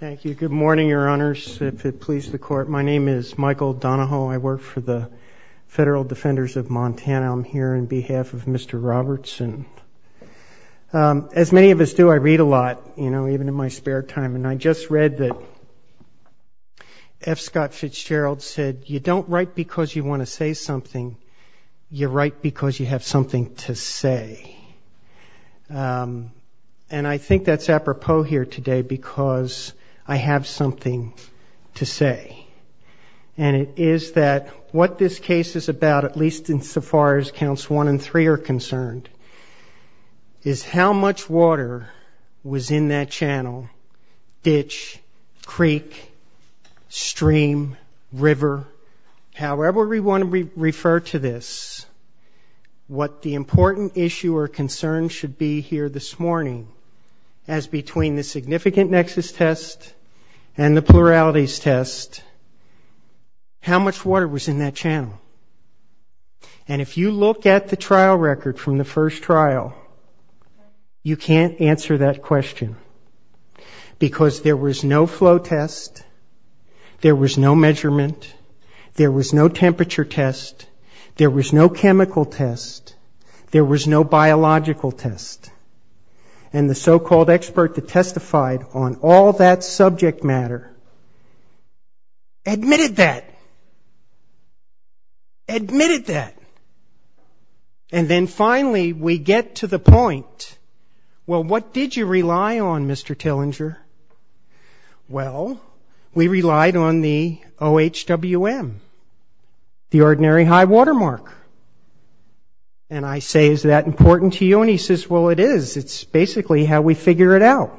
Thank you. Good morning, Your Honors. My name is Michael Donahoe. I work for the Federal Defenders of Montana. I'm here on behalf of Mr. Robertson. As many of us do, I read a lot, even in my spare time. And I just read that F. Scott Fitzgerald said, you don't write because you want to say something, you write because you have something to say. And I think that's apropos here today, because I have something to say. And it is that what this case is about, at least insofar as counts 1 and 3 are concerned, is how much water was in that channel, ditch, creek, stream, river. However we want to refer to this, what the significant nexus test and the pluralities test, how much water was in that channel. And if you look at the trial record from the first trial, you can't answer that question. Because there was no flow test, there was no measurement, there was no temperature test, there was no chemical test, there was no biological test. And the so-called expert that testified on all that subject matter admitted that. Admitted that. And then finally we get to the point, well, what did you rely on, Mr. Tillinger? Well, we relied on the OHWM, the Ordinary High Water Mark. And I say, is that important to you? And he says, well, it is. It's basically how we figure it out.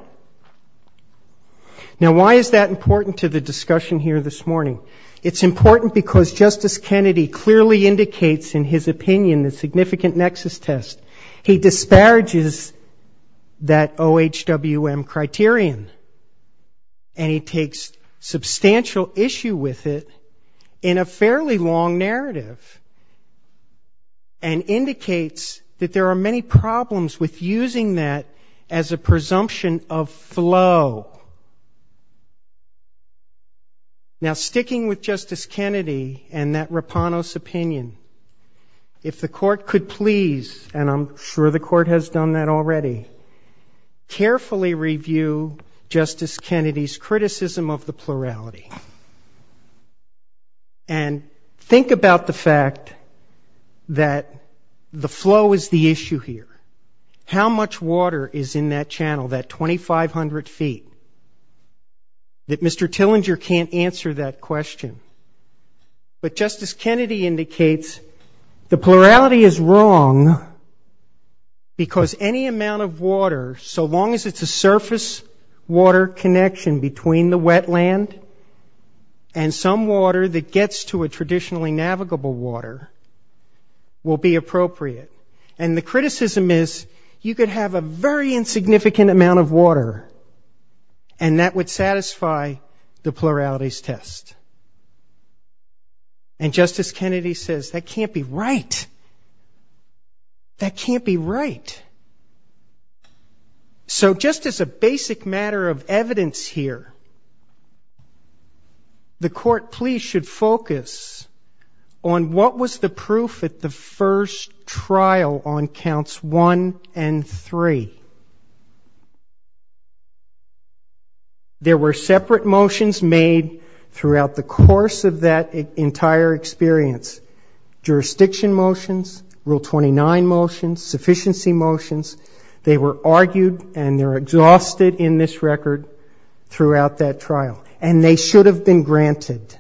Now why is that important to the discussion here this morning? It's important because Justice Kennedy clearly indicates in his opinion the significant nexus test. He disparages that OHWM criterion. And he takes substantial issue with it in a fairly long narrative. And indicates that there are many problems with using that as a presumption of flow. Now sticking with Justice Kennedy and that Rapanos opinion, if the court could please, and I'm sure the court has done that already, carefully review Justice Kennedy's criticism of the plurality. And think about the fact that the flow is the issue here. How much water is in that channel, that 2,500 feet? That Mr. Tillinger can't answer that question. But Justice Kennedy indicates the plurality is wrong because any amount of water, so long as it's a surface water connection between the wetland and some water that gets to a traditionally navigable water, will be appropriate. And the criticism is you could have a very large amount of water. And Justice Kennedy says that can't be right. That can't be right. So just as a basic matter of evidence here, the court please should focus on what was the proof at the first trial on counts one and three. There were separate motions made throughout the course of that entire experience. Jurisdiction motions, Rule 29 motions, sufficiency motions. They were argued and they're exhausted in this record throughout that trial. And they should have been granted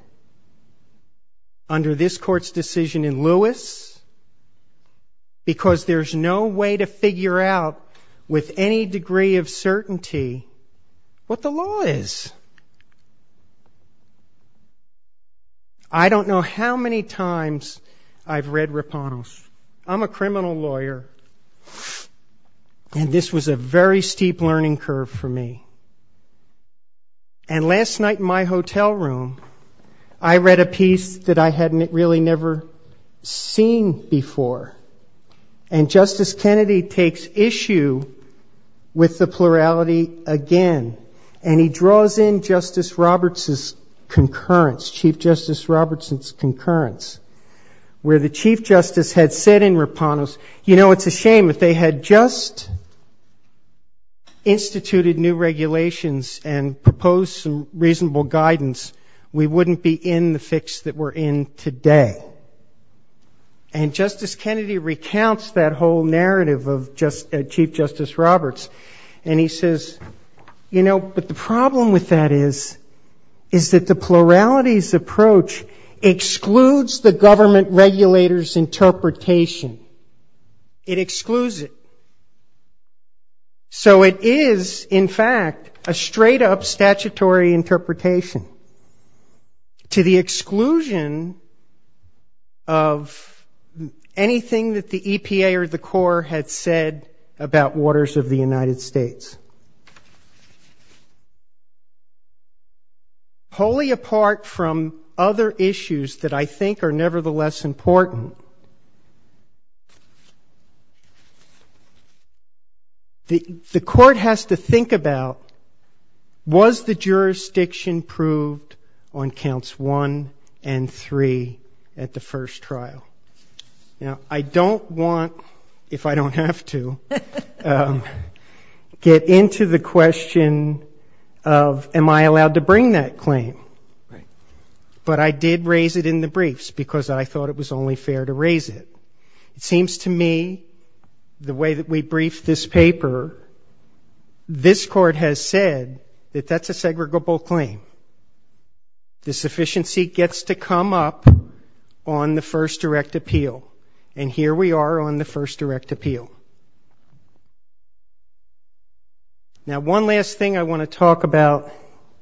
under this court's decision in Lewis because there's no way to figure out with any degree of certainty what the law is. And I'm not saying that the law is wrong. I don't know how many times I've read Raponos. I'm a criminal lawyer and this was a very steep learning curve for me. And last night in my hotel room, I read a piece that I hadn't really never seen before. And Justice Kennedy takes issue with the plurality again and he draws in Justice Roberts' concurrence, Chief Justice Roberts' concurrence where the Chief Justice had said in Raponos, you know, it's a shame if they had just instituted new regulations and proposed some reasonable guidance, we wouldn't be in the fix that we're in today. And Justice Kennedy recounts that whole narrative of Chief Justice Roberts and he says, you know, but the problem with that is that the plurality's approach excludes the government regulator's interpretation. It excludes it. So it is in fact a straight up statutory interpretation to the exclusion of anything that the EPA or the court had said about waters of the United States. Wholly apart from other issues that I think are nevertheless important, the court has to think about was the jurisdiction proved on counts one and three at the first trial? Now, I don't want, if I don't have to, get into the question of am I allowed to bring that claim. But I did raise it in the briefs because I thought it was only fair to raise it. It seems to me the way that we briefed this paper, this court has said that that's a segregable claim. The sufficiency gets to come up on the first direct appeal. And here we are on the first direct appeal. Now one last thing I want to talk about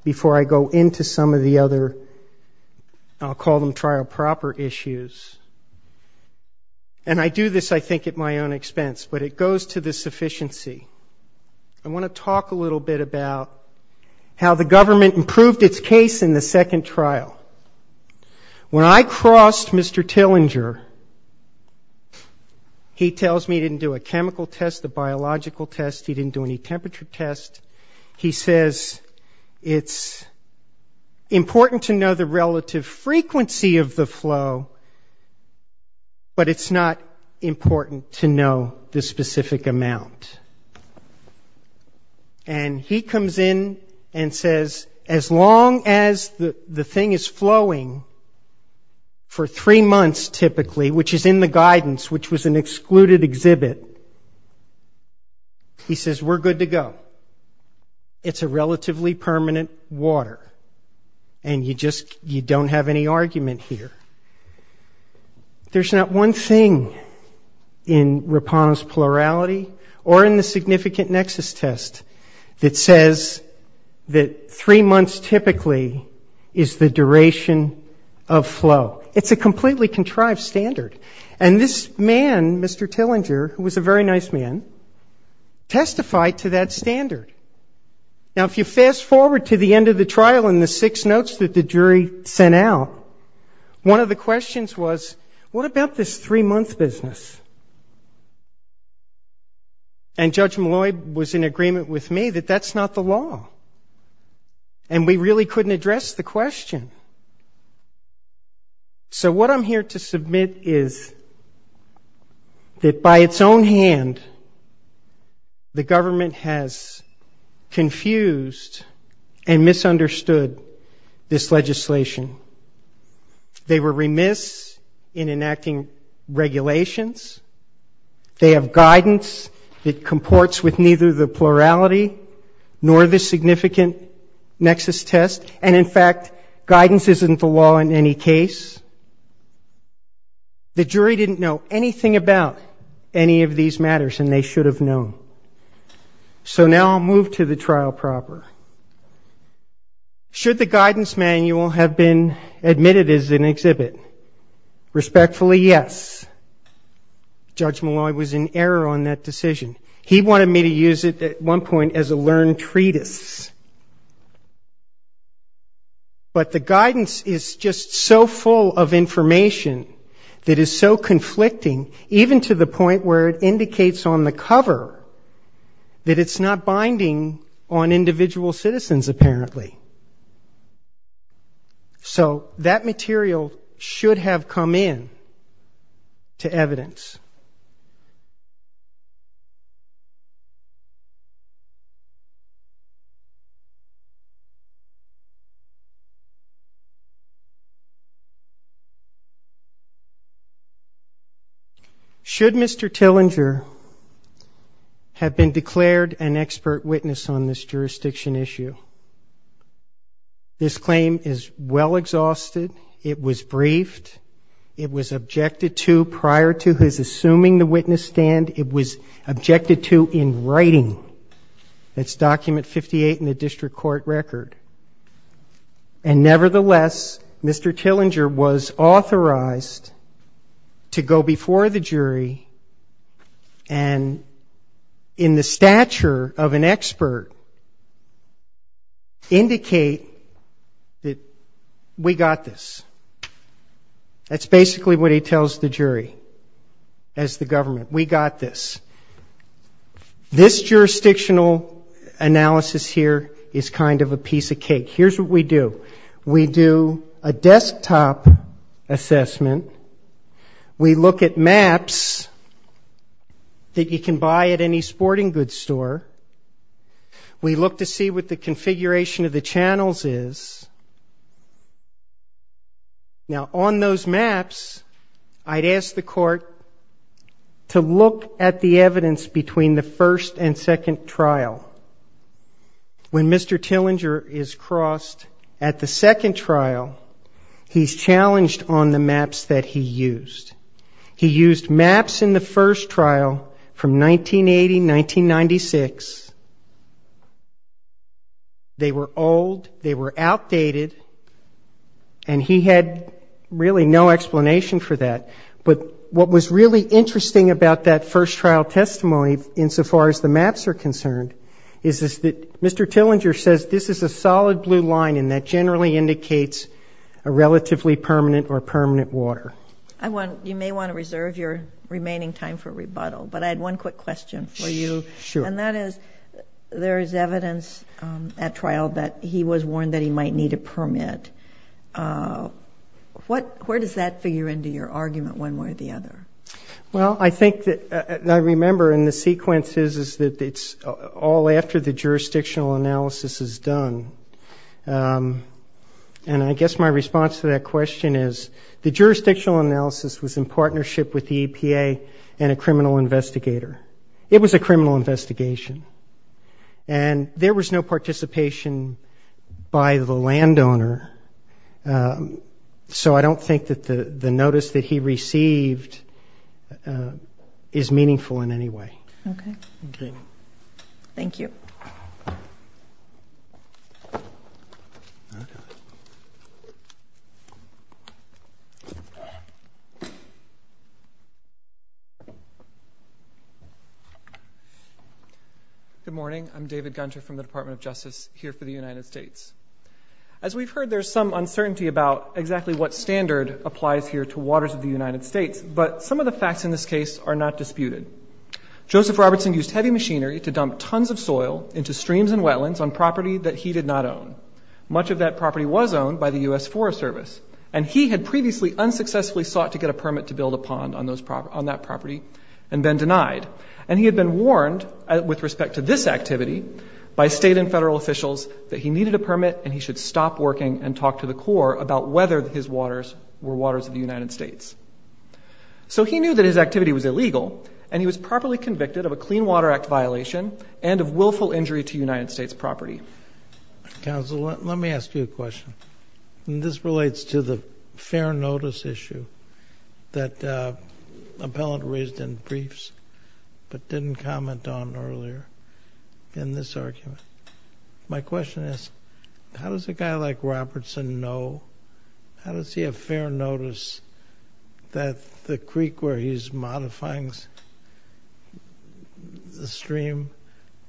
before I go into some of the other, I'll call them and I do this I think at my own expense, but it goes to the sufficiency. I want to talk a little bit about how the government improved its case in the second trial. When I crossed Mr. Tillinger, he tells me he didn't do a chemical test, a biological test, he didn't do any temperature test. He says it's important to know the relative frequency of the flow, but it's not important to know the specific amount. And he comes in and says, as long as the thing is flowing for three months typically, which is in the guidance, which was an excluded exhibit, he says we're good to go. It's a relatively permanent water. And you just, you don't have any argument here. There's not one thing in Rapano's plurality or in the significant nexus test that says that three months typically is the duration of flow. It's a completely contrived standard. And this man, Mr. Tillinger, who was a very nice man, testified to that standard. Now, if you fast forward to the end of the trial and the six notes that the jury sent out, one of the questions was, what about this three-month business? And Judge Malloy was in agreement with me that that's not the law. And we really couldn't address the question. So what I'm here to submit is that by its own hand, the government has improved its judgment on this matter. The jury was confused and misunderstood this legislation. They were remiss in enacting regulations. They have guidance that comports with neither the plurality nor the significant nexus test. And in fact, guidance isn't the law in any case. The jury didn't know anything about any of these matters, and they should have known. So now I'll move to the trial proper. Should the guidance manual have been admitted as an exhibit? Respectfully, yes. Judge Malloy was in error on that decision. He wanted me to use it at one point as a learned treatise. But the guidance is just so full of information that is so conflicting, even to the point where it indicates on the cover that it's not binding on individual citizens apparently. So that material should have come in to evidence. Should Mr. Tillinger have been declared an expert witness on this jurisdiction issue? This claim is well exhausted. It was briefed. It was objected to prior to his assuming the witness stand. It was objected to in writing. That's document 58 in the district court record. And nevertheless, Mr. Tillinger was authorized to go before the jury and in the stature of an expert indicate that we got this. That's basically what he tells the jury as the government. We got this. This jurisdictional analysis here is kind of a piece of cake. Here's what we do. We do a desktop assessment. We look at maps that you can buy at any sporting goods store. We look to see what the configuration of the channels is. Now on those maps, I'd ask the court to look at the evidence between the first and second trial. When Mr. Tillinger is crossed at the second trial, he's challenged on the maps that he used. He used maps in the first trial from 1980, 1996. They were old. They were outdated. And he had really no explanation for that. But what was really interesting about that first trial testimony insofar as the maps are concerned is that Mr. Tillinger says this is a solid blue line and that generally indicates a relatively permanent or permanent water. You may want to reserve your remaining time for rebuttal, but I had one quick question for you. And that is there is evidence at trial that he was warned that he might need a permit. Where does that figure into your argument one way or the other? Well, I think that I remember in the sequences is that it's all after the jurisdictional analysis is done. And I guess my response to that question is the jurisdictional analysis was in partnership with the EPA and a criminal investigator. It was a criminal investigation. And there was no participation by the landowner. So I don't think that the notice that he received is meaningful in any way. Okay. Thank you. Good morning. I'm David Gunter from the Department of Justice here for the United States. As we've heard, there's some uncertainty about exactly what standard applies here to waters of the United States. But some of the facts in this case are not disputed. Joseph Robertson used heavy machinery to dump tons of soil into streams and wetlands on property that he did not own. Much of that property was owned by the U.S. Forest Service. And he had previously unsuccessfully sought to get a permit to build a pond on that property and then denied. And he had been warned with respect to this activity by state and federal officials that he needed a permit and he should stop working and talk to the Corps about whether his waters were waters of the United States. So he knew that his activity was illegal and he was properly convicted of a Clean Water Act violation and of willful injury to United States property. Counsel, let me ask you a question. And this relates to the fair notice issue that an appellant raised in briefs but didn't comment on earlier in this argument. My question is, how does a guy like Robertson know, how does he have fair notice that the creek where he's modifying the stream,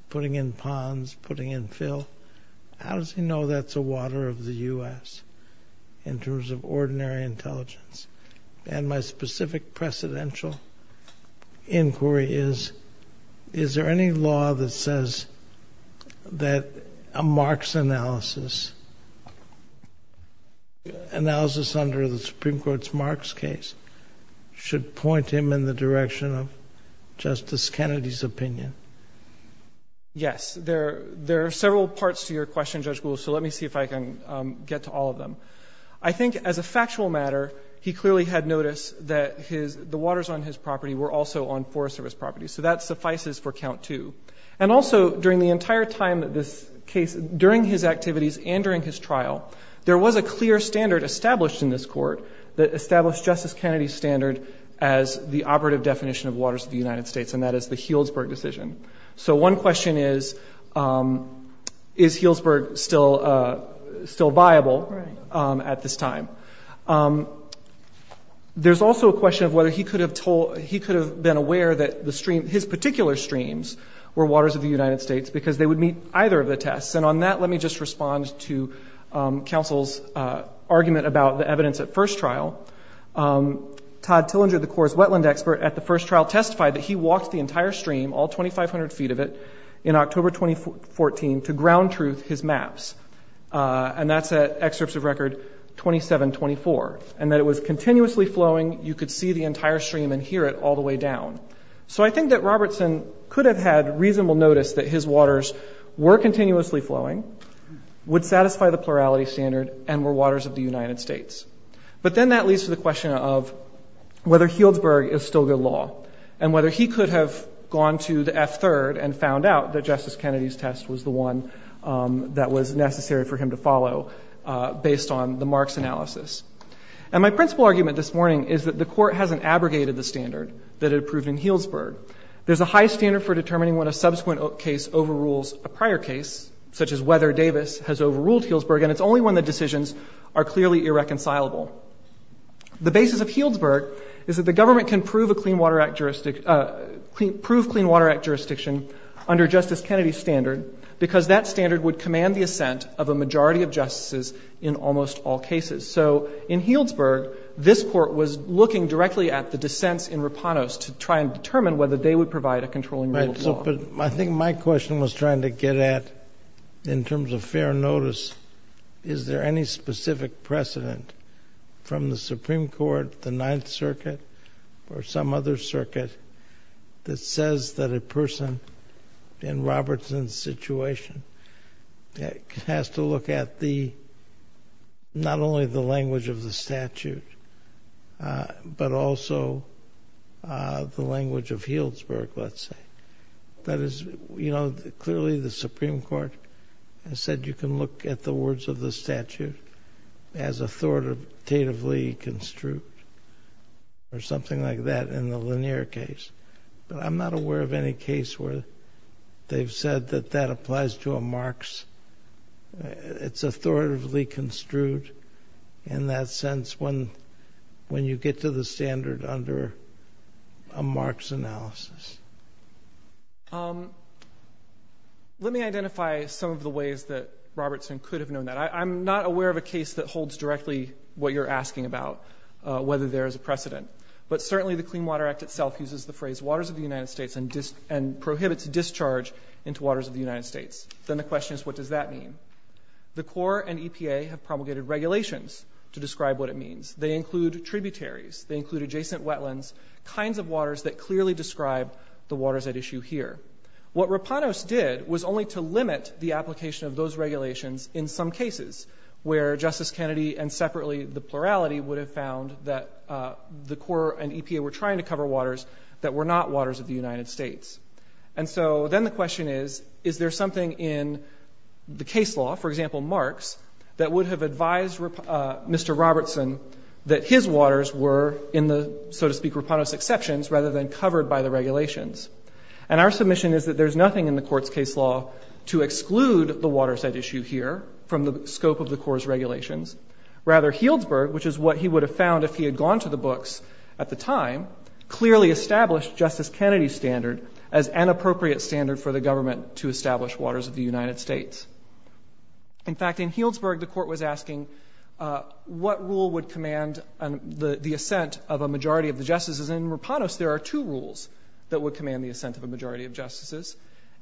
putting in ponds, putting in fill, how does he know that's a water of the U.S. in terms of ordinary intelligence? And my specific precedential inquiry is, is there any law that says that a Marx analysis, analysis under the Supreme Court's Marx case should point him in the direction of Justice Kennedy's opinion? Yes. There are several parts to your question, Judge Gould, so let me see if I can get to all of them. I think as a factual matter, he clearly had noticed that the waters on his property were also on Forest Service property, so that suffices for count two. And also during the entire time that this case, during his activities and during his trial, there was a clear standard established in this court that established Justice Kennedy's standard as the operative definition of waters of the United States, and that is the Healdsburg at this time. There's also a question of whether he could have told, he could have been aware that the stream, his particular streams were waters of the United States, because they would meet either of the tests. And on that, let me just respond to counsel's argument about the evidence at first trial. Todd Tillinger, the Corps' wetland expert, at the first trial testified that he walked the entire stream, all 2,500 feet of it, in October 2014 to ground truth his maps, and that's at excerpts of record 2724, and that it was continuously flowing, you could see the entire stream and hear it all the way down. So I think that Robertson could have had reasonable notice that his waters were continuously flowing, would satisfy the plurality standard, and were waters of the United States. But then that leads to the question of whether Healdsburg is still good law, and whether he could have gone to the F-3rd and found out that Justice Kennedy's test was the one that was necessary for him to follow, based on the Marks analysis. And my principal argument this morning is that the Court hasn't abrogated the standard that it approved in Healdsburg. There's a high standard for determining when a subsequent case overrules a prior case, such as whether Davis has overruled Healdsburg, and it's only when the decisions are clearly irreconcilable. The basis of Healdsburg is that the government can prove a Clean Water Act jurisdiction under Justice Kennedy's standard, because that standard would command the assent of a majority of justices in almost all cases. So in Healdsburg, this Court was looking directly at the dissents in Rapanos to try and determine whether they would provide a controlling rule of law. I think my question was trying to get at, in terms of fair notice, is there any specific precedent from the Supreme Court, the Ninth Circuit, or some other circuit that says that a person in Robertson's situation has to look at the, not only the language of the statute, but also the language of Healdsburg, let's say. That is, you know, clearly the Supreme Court has said you can look at the words of the statute as authoritatively construed, or something like that, in the linear case. But I'm not aware of any case where they've said that that applies to a marks. It's authoritatively construed in that sense when you get to the standard under a marks analysis. Let me identify some of the ways that Robertson could have known that. I'm not aware of a case that holds directly what you're asking about, whether there is a precedent. But certainly the Clean Water Act itself uses the phrase, waters of the United States, and prohibits discharge into waters of the United States. Then the question is, what does that mean? The Corps and EPA have promulgated regulations to describe what it means. They include tributaries, they include adjacent wetlands, kinds of waters that clearly describe the waters at issue here. What Rapanos did was only to limit the application of those regulations in some cases, where Justice Kennedy and separately the plurality would have found that the Corps and EPA were trying to cover waters that were not waters of the United States. And so then the question is, is there something in the case law, for example, marks, that would have advised Mr. Robertson that his waters were in the, so to speak, Rapanos exceptions rather than covered by the regulations. And our submission is that there's nothing in the court's case law to exclude the waters at issue here from the scope of the Corps' regulations. Rather, Healdsburg, which is what he would have found if he had gone to the books at the time, clearly established Justice Kennedy's standard as an appropriate standard for the government to establish waters of the United States. In fact, in Healdsburg, the court was asking what rule would command the assent of a majority of the justices, and in Rapanos there are two rules that would command the assent of a majority of justices.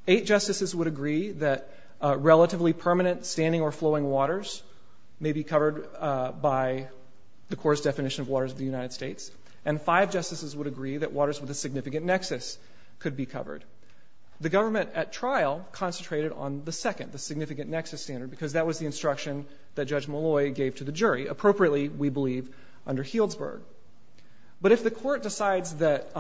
Eight justices would agree that relatively permanent standing or flowing waters may be covered by the Corps' definition of waters of the United States, and five justices would agree that waters with a significant nexus could be covered. The government at trial concentrated on the second, the significant nexus standard, because that was the instruction that Judge Malloy gave to the jury, appropriately, we believe, under Healdsburg. But if the court decides that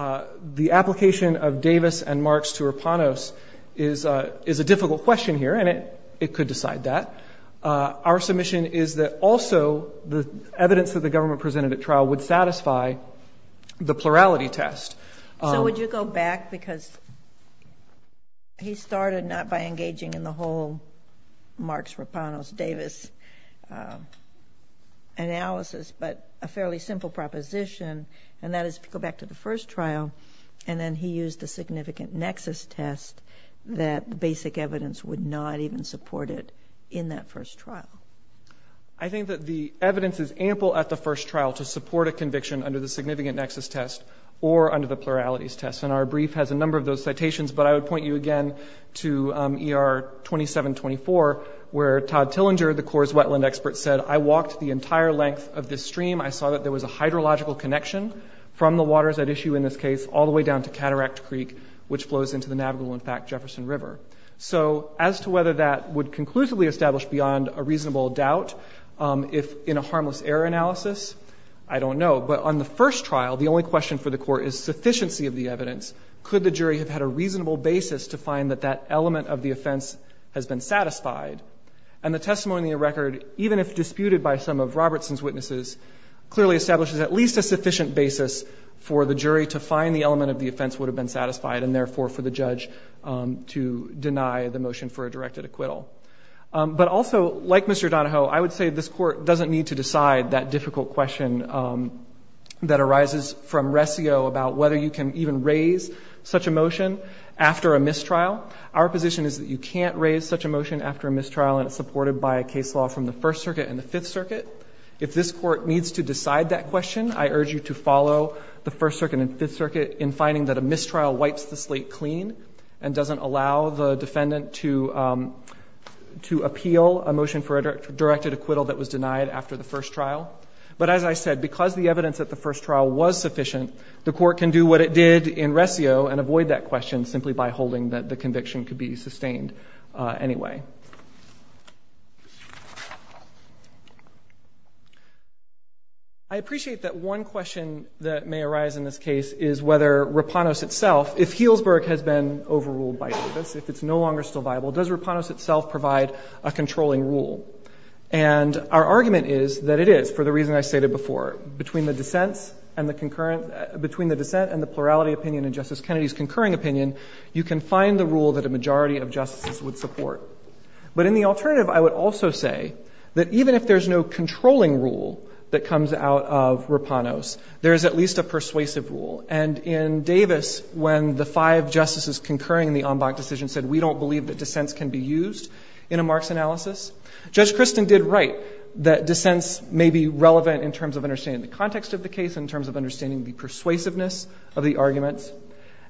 the application of Davis and marks to Rapanos is a difficult question here, and it could decide that, our submission is that also the evidence that the government presented at trial would satisfy the plurality test. So would you go back, because he started not by engaging in the whole Marks-Rapanos-Davis analysis, but a fairly simple proposition, and that is to go back to the first trial, and then he used the significant nexus test that basic evidence would not even support it in that first trial. I think that the evidence is ample at the first trial to support a conviction under the significant nexus test, or under the pluralities test, and our brief has a number of those citations, but I would point you again to ER 2724, where Todd Tillinger, the Corps' wetland expert, said, I walked the entire length of this stream, I saw that there was a hydrological connection from the waters at issue in this case, all the way down to Cataract Creek, which flows into the navigable, in fact, Jefferson River. So as to whether that would conclusively establish beyond a reasonable doubt, if in a harmless error analysis, I don't know. But on the first trial, the only question for the Court is sufficiency of the evidence. Could the jury have had a reasonable basis to find that that element of the offense has been satisfied? And the testimony in the record, even if disputed by some of Robertson's witnesses, clearly establishes at least a sufficient basis for the jury to find the element of the offense would have been satisfied, and therefore for the judge to deny the motion for a directed acquittal. But also, like Mr. Donahoe, I would say this Court doesn't need to decide that difficult question that arises from Ressio about whether you can even raise such a motion after a mistrial. Our position is that you can't raise such a motion after a mistrial, and it's supported by a case law from the First Circuit and the Fifth Circuit. If this Court needs to decide that question, I urge you to follow the First Circuit and Fifth Circuit in finding that a mistrial wipes the first trial. But as I said, because the evidence at the first trial was sufficient, the Court can do what it did in Ressio and avoid that question simply by holding that the conviction could be sustained anyway. I appreciate that one question that may arise in this case is whether Rapanos itself, if Healdsburg has been overruled by Davis, if it's no longer still viable, does Rapanos itself provide a controlling rule? And our argument is that it is, for the reason I stated before. Between the dissents and the concurrent — between the dissent and the plurality opinion in Justice Kennedy's concurring opinion, you can find the rule that a majority of justices would support. But in the alternative, I would also say that even if there's no controlling rule that comes out of Rapanos, there is at least a persuasive rule. And in Davis, when the five justices concurring in the Ambach decision said, we don't believe that dissents can be used in a Marx analysis, Judge Christen did write that dissents may be relevant in terms of understanding the context of the case, in terms of understanding the persuasiveness of the arguments.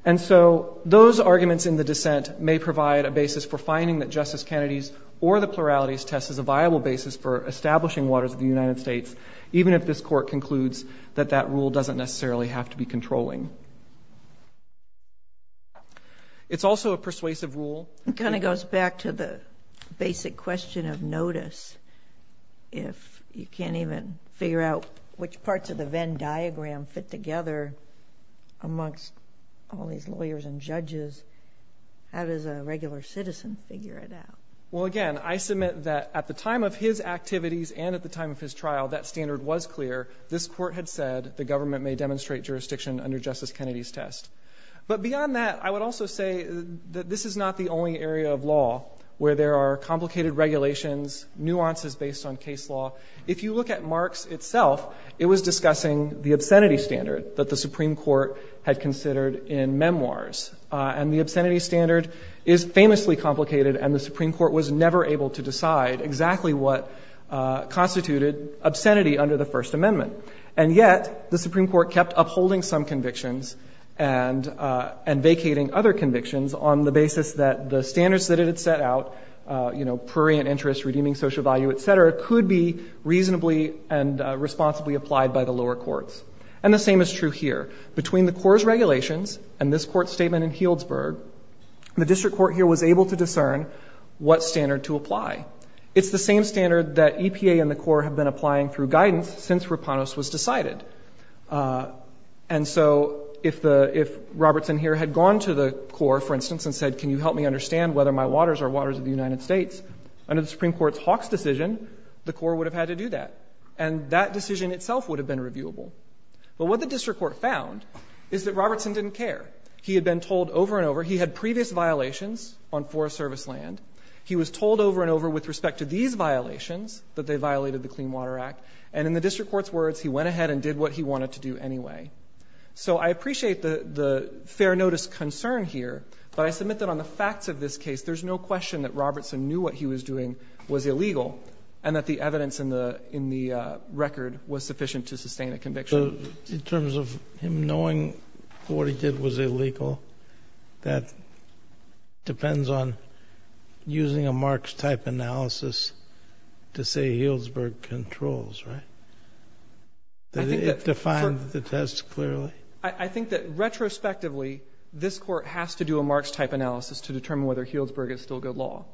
And so those arguments in the dissent may provide a basis for finding that Justice Kennedy's or the plurality's test is a viable basis for establishing waters of the United States, even if this Court concludes that that rule doesn't necessarily have to be controlling. It's also a persuasive rule. It kind of goes back to the basic question of notice. If you can't even figure out which parts of the Venn diagram fit together amongst all these lawyers and judges, how does a regular citizen figure it out? Well, again, I submit that at the time of his activities and at the time of his trial, that standard was clear. This Court had said the government may demonstrate jurisdiction under Justice Kennedy's test. But beyond that, I would also say that this is not the only area of law where there are complicated regulations, nuances based on case law. If you look at Marx itself, it was discussing the obscenity standard that the Supreme Court had considered in memoirs. And the obscenity standard is famously complicated, and the Supreme Court was never able to decide exactly what constituted obscenity under the First Amendment. And yet, the Supreme Court kept upholding some convictions and vacating other convictions on the basis that the standards that it had set out, you know, prurient interest, redeeming social value, et cetera, could be reasonably and responsibly applied by the lower courts. And the same is true here. Between the Court's regulations and this Court's statement in It's the same standard that EPA and the Court have been applying through guidance since Rapanos was decided. And so, if Robertson here had gone to the Court, for instance, and said, can you help me understand whether my waters are waters of the United States, under the Supreme Court's Hawks decision, the Court would have had to do that. And that decision itself would have been reviewable. But what the District Court found is that Robertson didn't care. He had been told over and over, he had previous violations on Forest Service land. He was told over and over with respect to these violations, that they violated the Clean Water Act. And in the District Court's words, he went ahead and did what he wanted to do anyway. So I appreciate the fair notice concern here, but I submit that on the facts of this case, there's no question that Robertson knew what he was doing was illegal, and that the evidence in the record was sufficient to sustain a conviction. So, in terms of him knowing what he did was illegal, that depends on using a Marx type analysis to say Healdsburg controls, right? I think that for— It defines the test clearly? I think that retrospectively, this Court has to do a Marx type analysis to determine whether Healdsburg is still good law.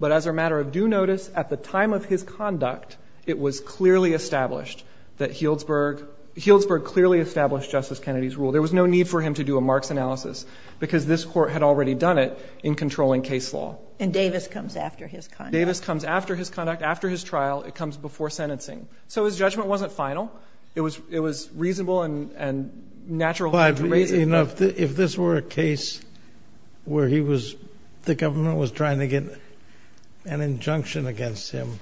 But as a matter of due notice, at the time of his conduct, it was clearly established that Healdsburg—Healdsburg clearly established Justice Kennedy's rule. There was no need for him to do a Marx analysis, because this Court had already done it in controlling case law. And Davis comes after his conduct. Davis comes after his conduct, after his trial. It comes before sentencing. So his judgment wasn't final. It was—it was reasonable and—and natural to raise it. But if this were a case where he was—the government was trying to get an injunction against him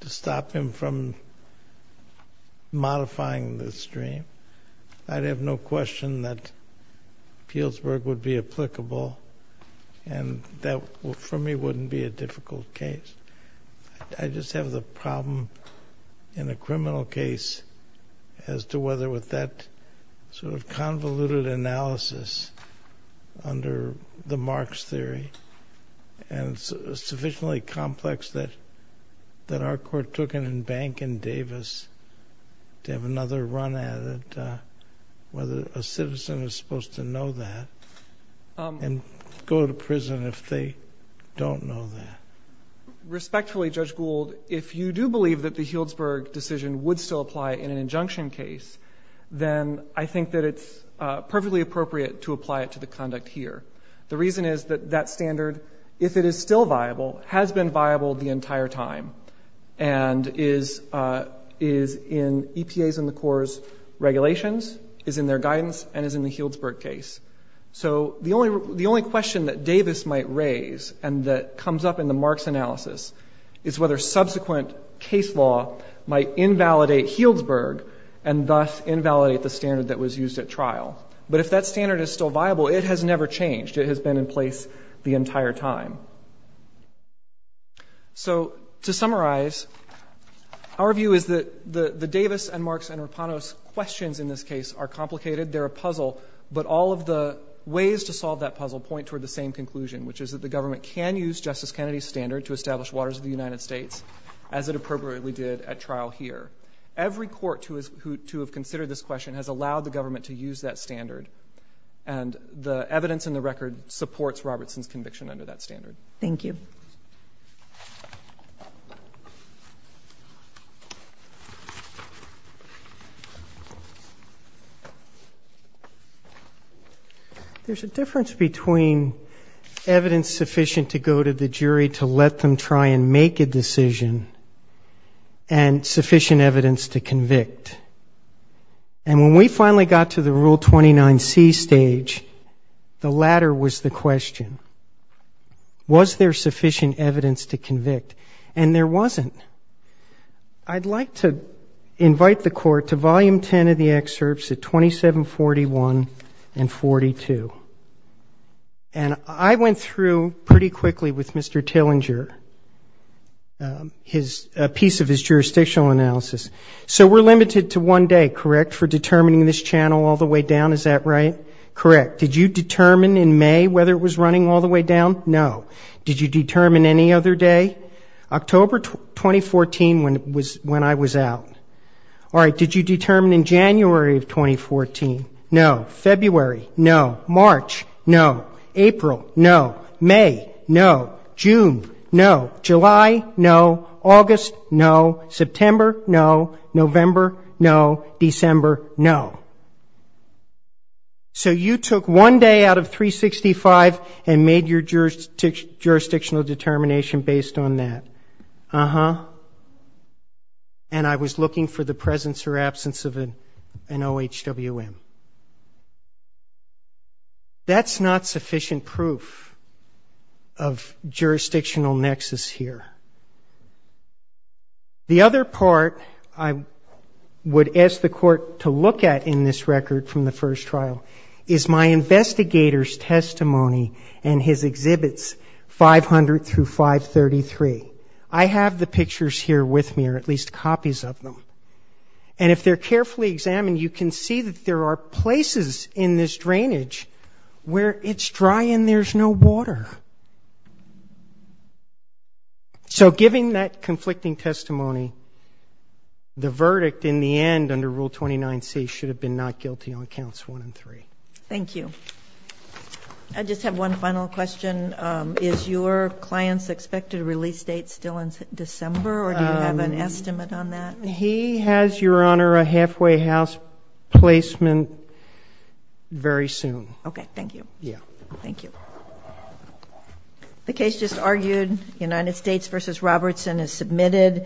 to stop him from modifying the stream, I'd have no question that Healdsburg would be applicable. And that, for me, wouldn't be a difficult case. I just have the problem, in a criminal case, as to whether with that sort of convoluted analysis under the Marx theory, and sufficiently complex that—that our Court took it in bank in Davis to have another run at it, whether a citizen is supposed to know that and go to prison if they don't know that. Respectfully, Judge Gould, if you do believe that the Healdsburg decision would still apply in an injunction case, then I think that it's perfectly appropriate to apply it to the conduct here. The reason is that that standard, if it is still viable, has been viable the entire time and is—is in EPA's and the Corps' regulations, is in their guidance, and is in the Healdsburg case. So the only—the only question that Davis might raise and that comes up in the Marx analysis is whether subsequent case law might invalidate Healdsburg and thus invalidate the standard that was used at trial. But if that standard is still viable, it has never changed. It has been in place the entire time. So, to summarize, our view is that the—the Davis and Marx and Rapanos questions in this case are complicated. They're a puzzle, but all of the ways to solve that puzzle point toward the same conclusion, which is that the government can use Justice Kennedy's standard to establish waters of the United States, as it appropriately did at trial here. Every court to—who—to have considered this question has allowed the government to use that standard, and the evidence in the record supports Robertson's conviction under that standard. Thank you. There's a difference between evidence sufficient to go to the jury to let them try and make a decision and sufficient evidence to convict. And when we finally got to the Rule 29C stage, the latter was the question. Was there sufficient evidence to convict? And there wasn't. I'd like to invite the Court to volume 10 of the excerpts at 2741 and 42. And I went through pretty quickly with Mr. Tillinger his—a piece of his jurisdictional analysis. So we're limited to one day, correct, for determining this channel all the way down? Is that right? Correct. Did you determine in May whether it was running all the way down? No. Did you determine any other day? October 2014, when I was out. All right. Did you determine in January of 2014? No. February? No. March? No. April? No. May? No. June? No. July? No. August? No. September? No. November? No. December? No. So you took one day out of 365 and made your jurisdictional determination based on that? Uh-huh. And I was looking for the presence or absence of an OHWM. That's not sufficient proof of jurisdictional nexus here. The other part I would ask the Court to look at in this record from the first trial is my investigator's testimony and his exhibits 500 through 533. I have the pictures here with me, or at least copies of them. And if they're carefully examined, you can see that there are places in this drainage where it's dry and there's no water. So given that conflicting testimony, the verdict in the end under Rule 29C should have been not guilty on Counts 1 and 3. Thank you. I just have one final question. Is your client's expected release date still in December, or do you have an estimate on that? He has, Your Honor, a halfway house placement very soon. Okay. Thank you. Yeah. Thank you.